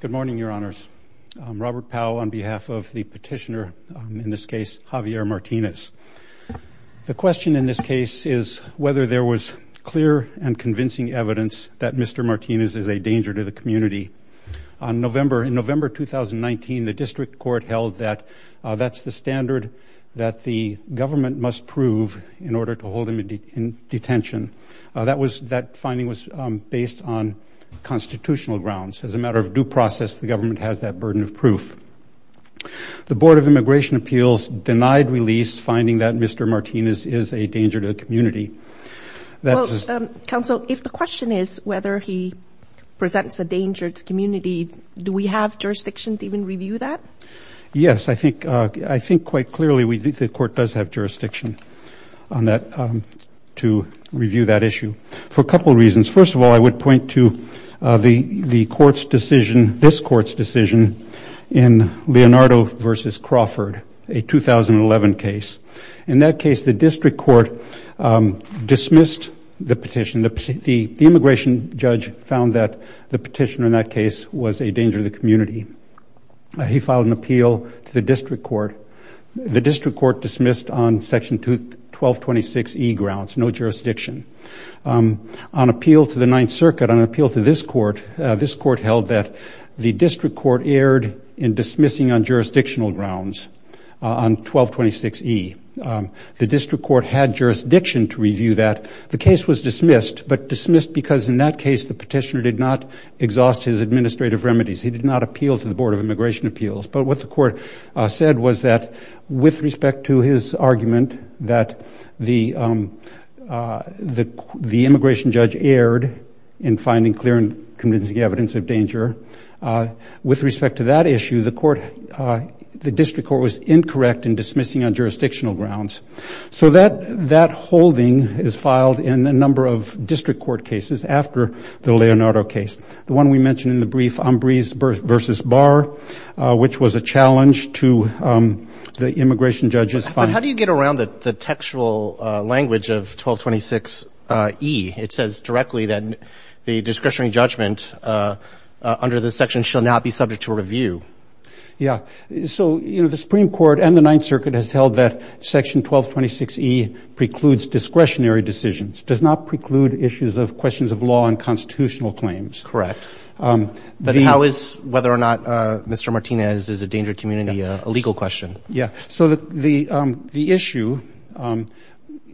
Good morning, Your Honors. I'm Robert Powell on behalf of the petitioner, in this case, Javier Martinez. The question in this case is whether there was clear and convincing evidence that Mr. Martinez is a danger to the community. In November 2019, the district court held that that's the standard that the government must prove in order to hold him in detention. That finding was based on constitutional grounds. As a matter of due process, the government has that burden of proof. The Board of Immigration Appeals denied release, finding that Mr. Martinez is a danger to the community. Counsel, if the question is whether he presents a danger to the community, do we have jurisdiction to even review that? Yes, I think quite clearly the court does have jurisdiction to review that issue for a couple of reasons. First of all, I would point to this court's decision in Leonardo v. Crawford, a 2011 case. In that case, the district court dismissed the petition. The immigration judge found that the petitioner in that case was a danger to the community. He filed an appeal to the district court. The district court dismissed on Section 1226E grounds, no jurisdiction. On appeal to the Ninth Circuit, on appeal to this court, this court held that the district court erred in dismissing on jurisdictional grounds on 1226E. The district court had jurisdiction to review that. The case was dismissed, but dismissed because in that case the petitioner did not exhaust his administrative remedies. He did not appeal to the Board of Immigration Appeals. But what the court said was that with respect to his argument that the immigration judge erred in finding clear and convincing evidence of danger, with respect to that issue, the district court was incorrect in dismissing on jurisdictional grounds. So that holding is filed in a number of district court cases after the Leonardo case. The one we mentioned in the brief, Umbres v. Barr, which was a challenge to the immigration judge's findings. But how do you get around the textual language of 1226E? It says directly that the discretionary judgment under this section shall not be subject to review. Yeah. So, you know, the Supreme Court and the Ninth Circuit has held that Section 1226E precludes discretionary decisions, does not preclude issues of questions of law and constitutional claims. Correct. But how is whether or not Mr. Martinez is a danger to the community a legal question? Yeah. So the issue,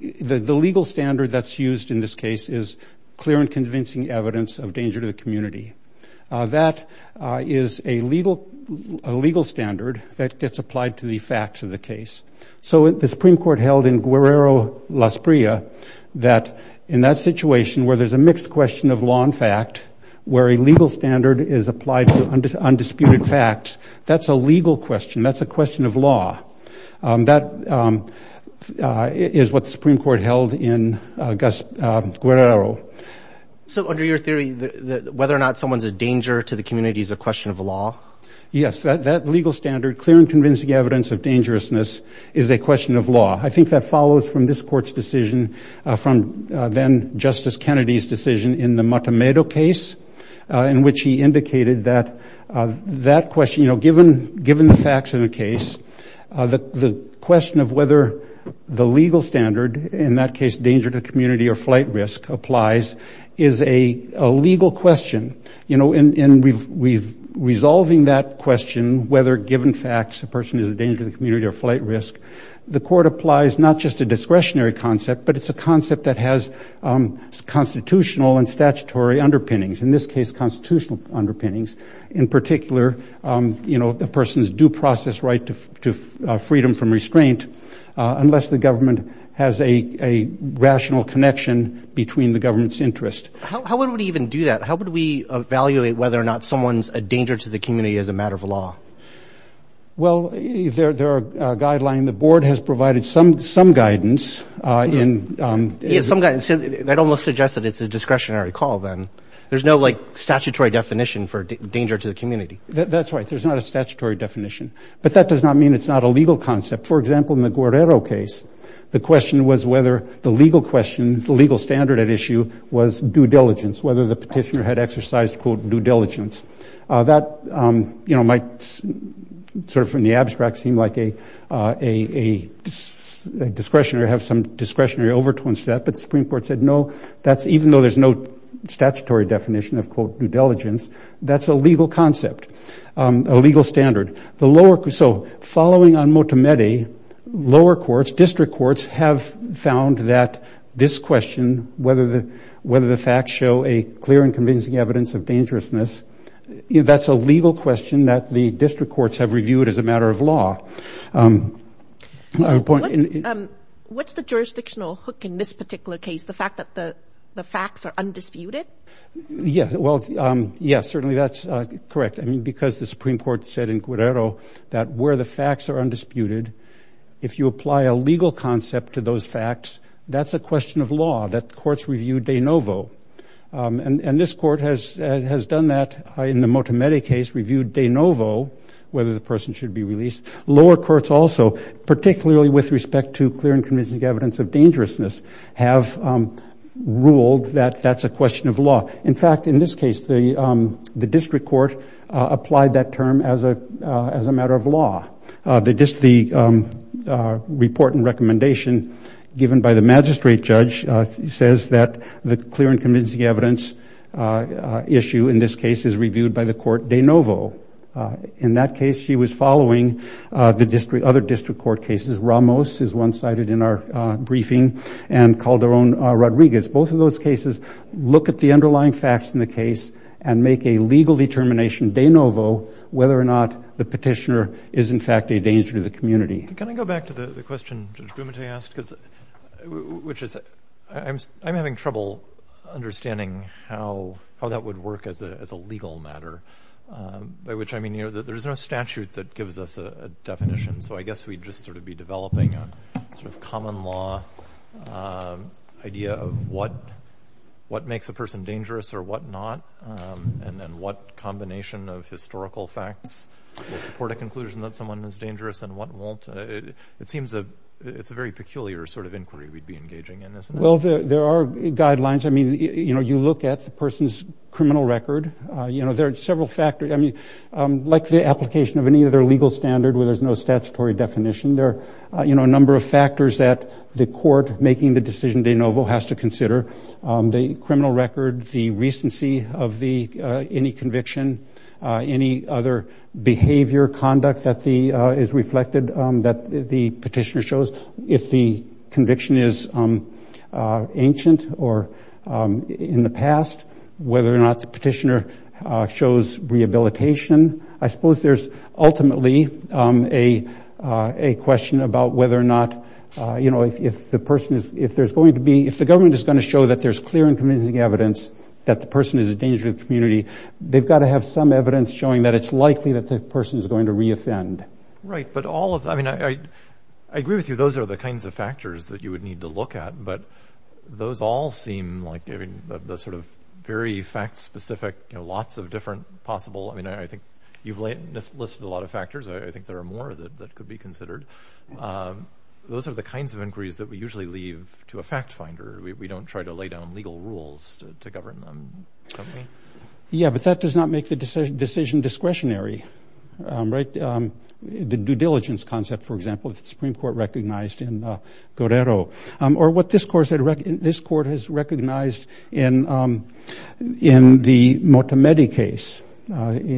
the legal standard that's used in this case is clear and convincing evidence of danger to the community. That is a legal standard that gets applied to the facts of the case. So the Supreme Court held in Guerrero, Las Prias, that in that situation where there's a mixed question of law and fact, where a legal standard is applied to undisputed facts, that's a legal question. That's a question of law. That is what the Supreme Court held in Guerrero. So under your theory, whether or not someone's a danger to the community is a question of law? Yes. That legal standard, clear and convincing evidence of dangerousness, is a question of law. I think that follows from this Court's decision from then-Justice Kennedy's decision in the Matamedo case, in which he indicated that that question, you know, given the facts of the case, the question of whether the legal standard, in that case danger to community or flight risk, applies is a legal question. You know, in resolving that question, whether given facts a person is a danger to the community or flight risk, the Court applies not just a discretionary concept, but it's a concept that has constitutional and statutory underpinnings, in this case constitutional underpinnings, in particular, you know, a person's due process right to freedom from restraint unless the government has a rational connection between the government's interest. How would we even do that? How would we evaluate whether or not someone's a danger to the community as a matter of law? Well, there are guidelines. The Board has provided some guidance. Yes, some guidance. That almost suggests that it's a discretionary call then. There's no, like, statutory definition for danger to the community. That's right. There's not a statutory definition. But that does not mean it's not a legal concept. For example, in the Guerrero case, the question was whether the legal question, the legal standard at issue, was due diligence, whether the petitioner had exercised, quote, due diligence. That, you know, might sort of, in the abstract, seem like a discretionary, have some discretionary overtones to that. But the Supreme Court said, no, that's, even though there's no statutory definition of, quote, due diligence, that's a legal concept, a legal standard. So following on Motamedi, lower courts, district courts, have found that this question, whether the facts show a clear and convincing evidence of dangerousness, that's a legal question that the district courts have reviewed as a matter of law. What's the jurisdictional hook in this particular case, the fact that the facts are undisputed? Yes, well, yes, certainly that's correct. I mean, because the Supreme Court said in Guerrero that where the facts are undisputed, if you apply a legal concept to those facts, that's a question of law, that courts review de novo. And this court has done that in the Motamedi case, reviewed de novo whether the person should be released. Lower courts also, particularly with respect to clear and convincing evidence of dangerousness, have ruled that that's a question of law. In fact, in this case, the district court applied that term as a matter of law. The report and recommendation given by the magistrate judge says that the clear and convincing evidence issue in this case is reviewed by the court de novo. In that case, she was following the other district court cases. Ramos is one cited in our briefing, and Calderon-Rodriguez. Both of those cases look at the underlying facts in the case and make a legal determination de novo whether or not the petitioner is in fact a danger to the community. Can I go back to the question Judge Bumate asked? I'm having trouble understanding how that would work as a legal matter, by which I mean there's no statute that gives us a definition, so I guess we'd just sort of be developing a sort of common law idea of what makes a person dangerous or what not, and then what combination of historical facts will support a conclusion that someone is dangerous and what won't. It seems it's a very peculiar sort of inquiry we'd be engaging in, isn't it? Well, there are guidelines. I mean, you look at the person's criminal record. You know, there are several factors. I mean, like the application of any other legal standard where there's no statutory definition, there are a number of factors that the court making the decision de novo has to consider, the criminal record, the recency of any conviction, any other behavior, conduct that is reflected that the petitioner shows. If the conviction is ancient or in the past, whether or not the petitioner shows rehabilitation. I suppose there's ultimately a question about whether or not, you know, if the person is going to be, if the government is going to show that there's clear and convincing evidence that the person is a danger to the community, they've got to have some evidence showing that it's likely that the person is going to reoffend. Right. But all of, I mean, I agree with you. Those are the kinds of factors that you would need to look at. But those all seem like the sort of very fact specific, you know, lots of different possible. I mean, I think you've listed a lot of factors. I think there are more that could be considered. Those are the kinds of inquiries that we usually leave to a fact finder. We don't try to lay down legal rules to govern them. Yeah, but that does not make the decision discretionary. Right. The due diligence concept, for example, the Supreme Court recognized in Guerrero, or what this court has recognized in the Motamedi case, you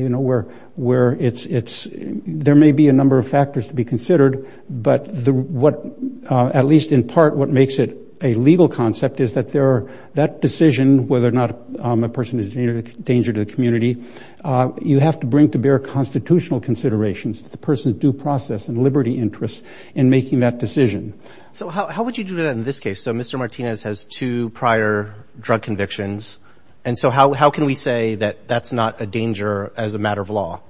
know, where it's there may be a number of factors to be considered. But what at least in part what makes it a legal concept is that there are that decision, whether or not a person is a danger to the community. You have to bring to bear constitutional considerations, the person's due process and liberty interests in making that decision. So how would you do that in this case? So Mr. Martinez has two prior drug convictions. And so how can we say that that's not a danger as a matter of law?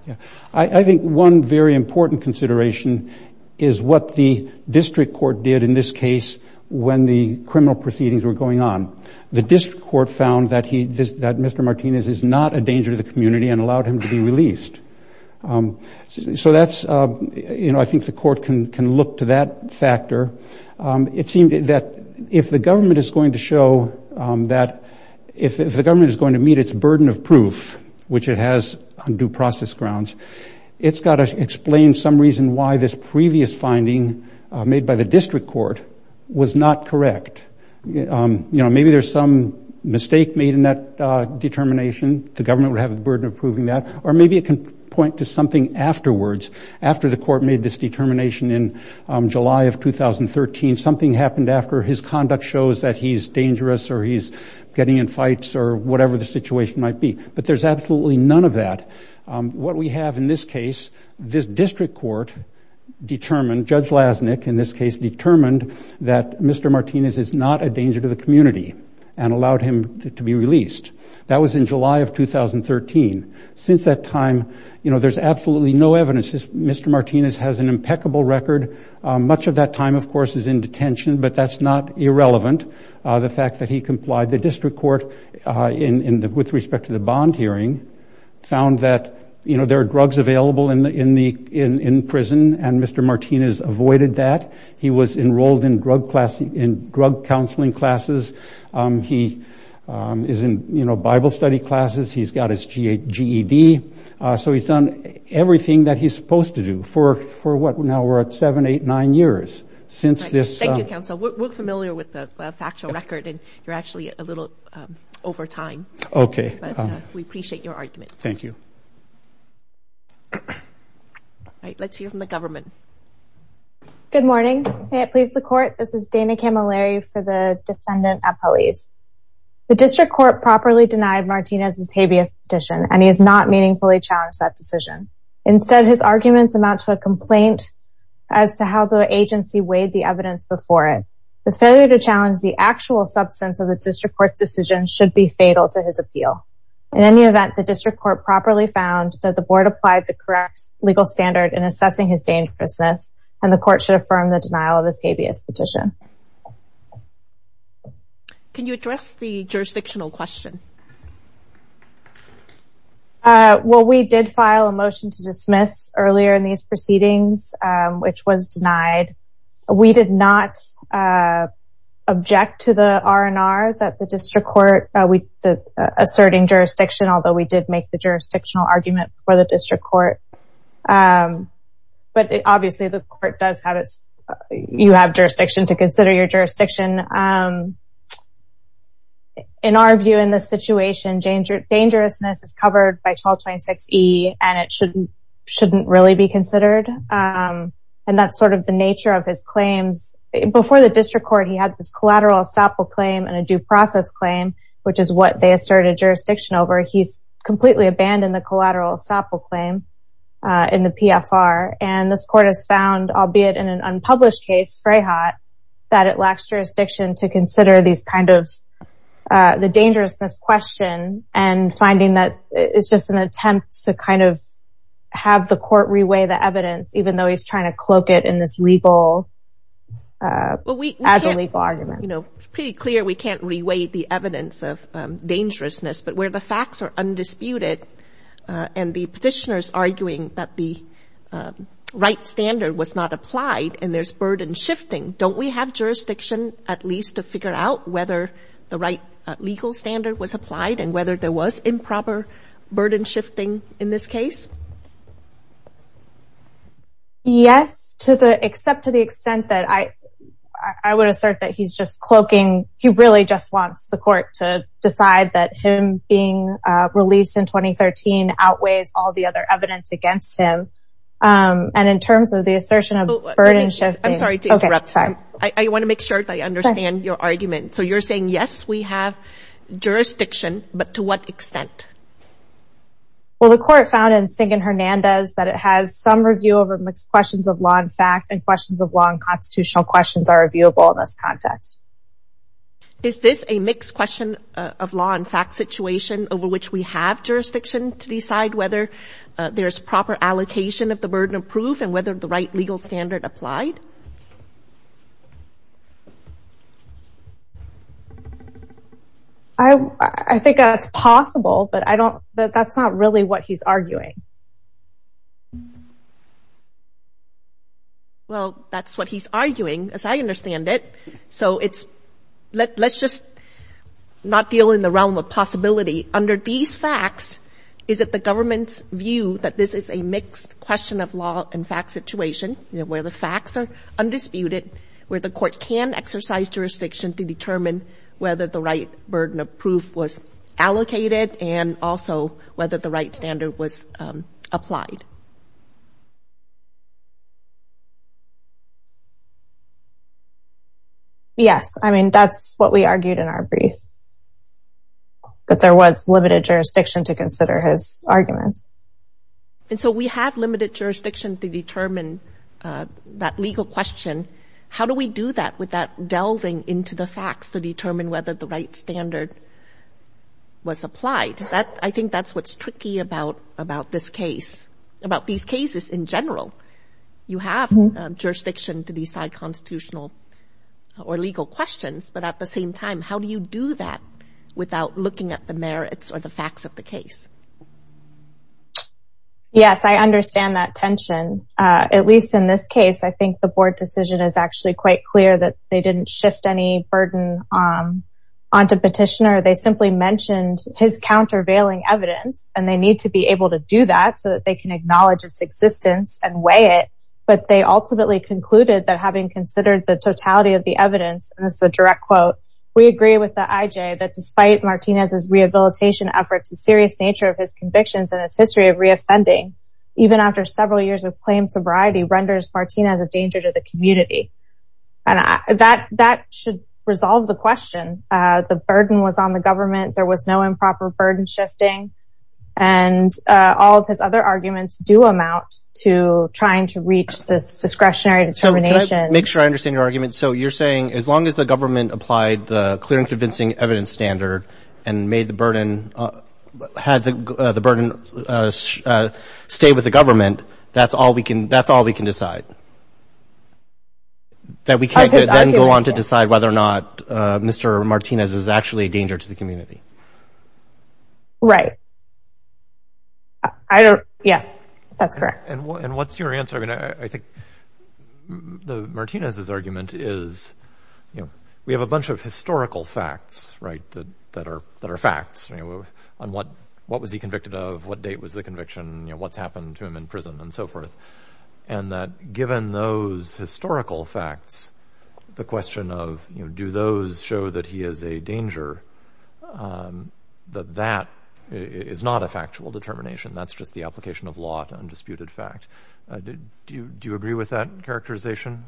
I think one very important consideration is what the district court did in this case when the criminal proceedings were going on. The district court found that Mr. Martinez is not a danger to the community and allowed him to be released. So that's, you know, I think the court can look to that factor. It seemed that if the government is going to show that if the government is going to meet its burden of proof, which it has on due process grounds, it's got to explain some reason why this previous finding made by the district court was not correct. You know, maybe there's some mistake made in that determination. The government would have the burden of proving that. Or maybe it can point to something afterwards, after the court made this determination in July of 2013, something happened after his conduct shows that he's dangerous or he's getting in fights or whatever the situation might be. But there's absolutely none of that. What we have in this case, this district court determined, Judge Lasnik, in this case, determined that Mr. Martinez is not a danger to the community and allowed him to be released. That was in July of 2013. Since that time, you know, there's absolutely no evidence that Mr. Martinez has an impeccable record. Much of that time, of course, is in detention. But that's not irrelevant, the fact that he complied. The district court, with respect to the bond hearing, found that, you know, there are drugs available in prison, and Mr. Martinez avoided that. He was enrolled in drug counseling classes. He is in, you know, Bible study classes. He's got his GED. So he's done everything that he's supposed to do for, what, now we're at seven, eight, nine years since this. Thank you, counsel. We're familiar with the factual record, and you're actually a little over time. Okay. But we appreciate your argument. Thank you. All right, let's hear from the government. Good morning. May it please the court, this is Dana Camilleri for the defendant appellees. The district court properly denied Martinez's habeas petition, and he has not meaningfully challenged that decision. Instead, his arguments amount to a complaint as to how the agency weighed the evidence before it. The failure to challenge the actual substance of the district court's decision should be fatal to his appeal. In any event, the district court properly found that the board applied the correct legal standard in assessing his dangerousness, and the court should affirm the denial of this habeas petition. Can you address the jurisdictional question? Well, we did file a motion to dismiss earlier in these proceedings, which was denied. We did not object to the R&R that the district court, asserting jurisdiction, although we did make the jurisdictional argument for the district court. But obviously, the court does have its, you have jurisdiction to consider your jurisdiction. In our view, in this situation, dangerousness is covered by 1226E, and it shouldn't really be considered. And that's sort of the nature of his claims. Before the district court, he had this collateral estoppel claim and a due process claim, which is what they asserted jurisdiction over. He's completely abandoned the collateral estoppel claim in the PFR. And this court has found, albeit in an unpublished case, Freyhat, that it lacks jurisdiction to consider these kind of, the dangerousness question, and finding that it's just an attempt to kind of have the court reweigh the evidence, even though he's trying to cloak it in this legal, as a legal argument. You know, it's pretty clear we can't reweigh the evidence of dangerousness. But where the facts are undisputed, and the petitioners arguing that the right standard was not applied, and there's burden shifting, don't we have jurisdiction, at least, to figure out whether the right legal standard was applied and whether there was improper burden shifting in this case? Yes, except to the extent that I would assert that he's just cloaking. He really just wants the court to decide that him being released in 2013 outweighs all the other evidence against him. And in terms of the assertion of burden shifting... I'm sorry to interrupt. I want to make sure that I understand your argument. So you're saying, yes, we have jurisdiction, but to what extent? Well, the court found in Sing and Hernandez that it has some review over questions of law and fact, and questions of law and constitutional questions are reviewable in this context. Is this a mixed question of law and fact situation over which we have jurisdiction to decide whether there's proper allocation of the burden of proof and whether the right legal standard applied? I think that's possible, but that's not really what he's arguing. Well, that's what he's arguing, as I understand it. So let's just not deal in the realm of possibility. Under these facts, is it the government's view that this is a mixed question of law and fact situation, where the facts are undisputed, where the court can exercise jurisdiction to determine whether the right burden of proof was allocated and also whether the right standard was applied? Yes. I mean, that's what we argued in our brief, that there was limited jurisdiction to consider his arguments. And so we have limited jurisdiction to determine that legal question. How do we do that without delving into the facts to determine whether the right standard was applied? I think that's what's tricky about this case, about these cases in general. You have jurisdiction to decide constitutional or legal questions, but at the same time, how do you do that without looking at the merits or the facts of the case? Yes, I understand that tension. At least in this case, I think the board decision is actually quite clear that they didn't shift any burden onto petitioner. They simply mentioned his countervailing evidence, and they need to be able to do that so that they can acknowledge its existence and weigh it. But they ultimately concluded that having considered the totality of the evidence – and this is a direct quote – we agree with the IJ that despite Martinez's rehabilitation efforts, the serious nature of his convictions and his history of reoffending, even after several years of claimed sobriety, renders Martinez a danger to the community. And that should resolve the question. The burden was on the government. There was no improper burden shifting. And all of his other arguments do amount to trying to reach this discretionary determination. Can I make sure I understand your argument? So you're saying as long as the government applied the clear and convincing evidence standard and had the burden stay with the government, that's all we can decide? That we can't then go on to decide whether or not Mr. Martinez is actually a danger to the community? Right. Yeah, that's correct. And what's your answer? I think Martinez's argument is we have a bunch of historical facts that are facts. What was he convicted of? What date was the conviction? What's happened to him in prison and so forth? And that given those historical facts, the question of do those show that he is a danger, that that is not a factual determination. That's just the application of law to undisputed fact. Do you agree with that characterization?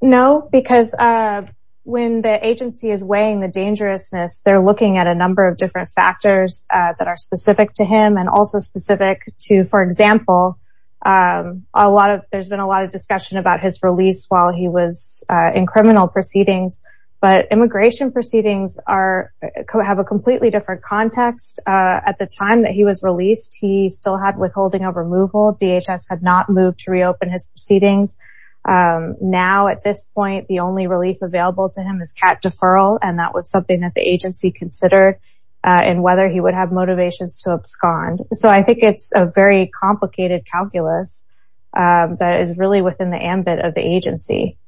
No, because when the agency is weighing the dangerousness, they're looking at a number of different factors that are specific to him and also specific to, for example, there's been a lot of discussion about his release while he was in criminal proceedings. But immigration proceedings have a completely different context. At the time that he was released, he still had withholding of removal. DHS had not moved to reopen his proceedings. Now at this point, the only relief available to him is cat deferral and that was something that the agency considered and whether he would have motivations to abscond. So I think it's a very complicated calculus that is really within the ambit of the agency.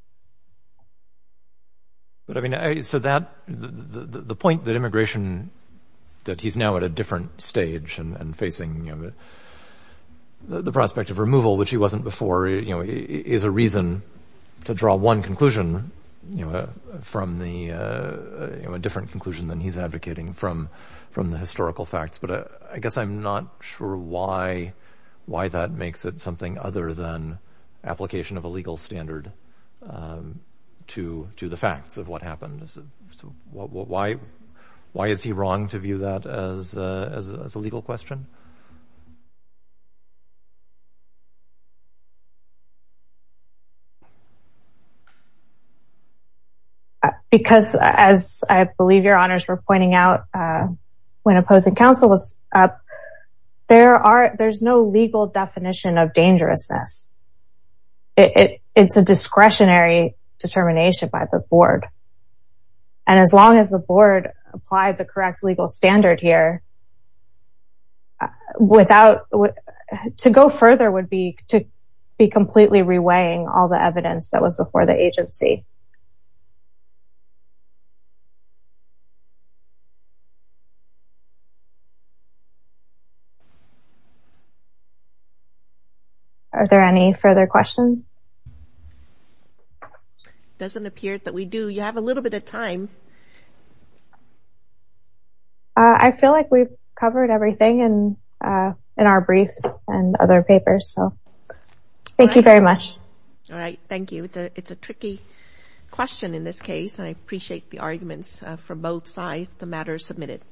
But, I mean, so that, the point that immigration, that he's now at a different stage and facing the prospect of removal, which he wasn't before, is a reason to draw one conclusion from the, a different conclusion than he's advocating from the historical facts. But I guess I'm not sure why that makes it something other than to the facts of what happened. So why is he wrong to view that as a legal question? Because, as I believe your honors were pointing out, when opposing counsel was up, there's no legal definition of dangerousness. It's a discretionary determination by the board. And as long as the board applied the correct legal standard here, without, to go further would be to be completely reweighing all the evidence that was before the agency. Are there any further questions? It doesn't appear that we do. You have a little bit of time. I feel like we've covered everything in our brief and other papers. So, thank you very much. All right. But I think we've covered everything. Question in this case. And I appreciate the arguments from both sides. The matter is submitted.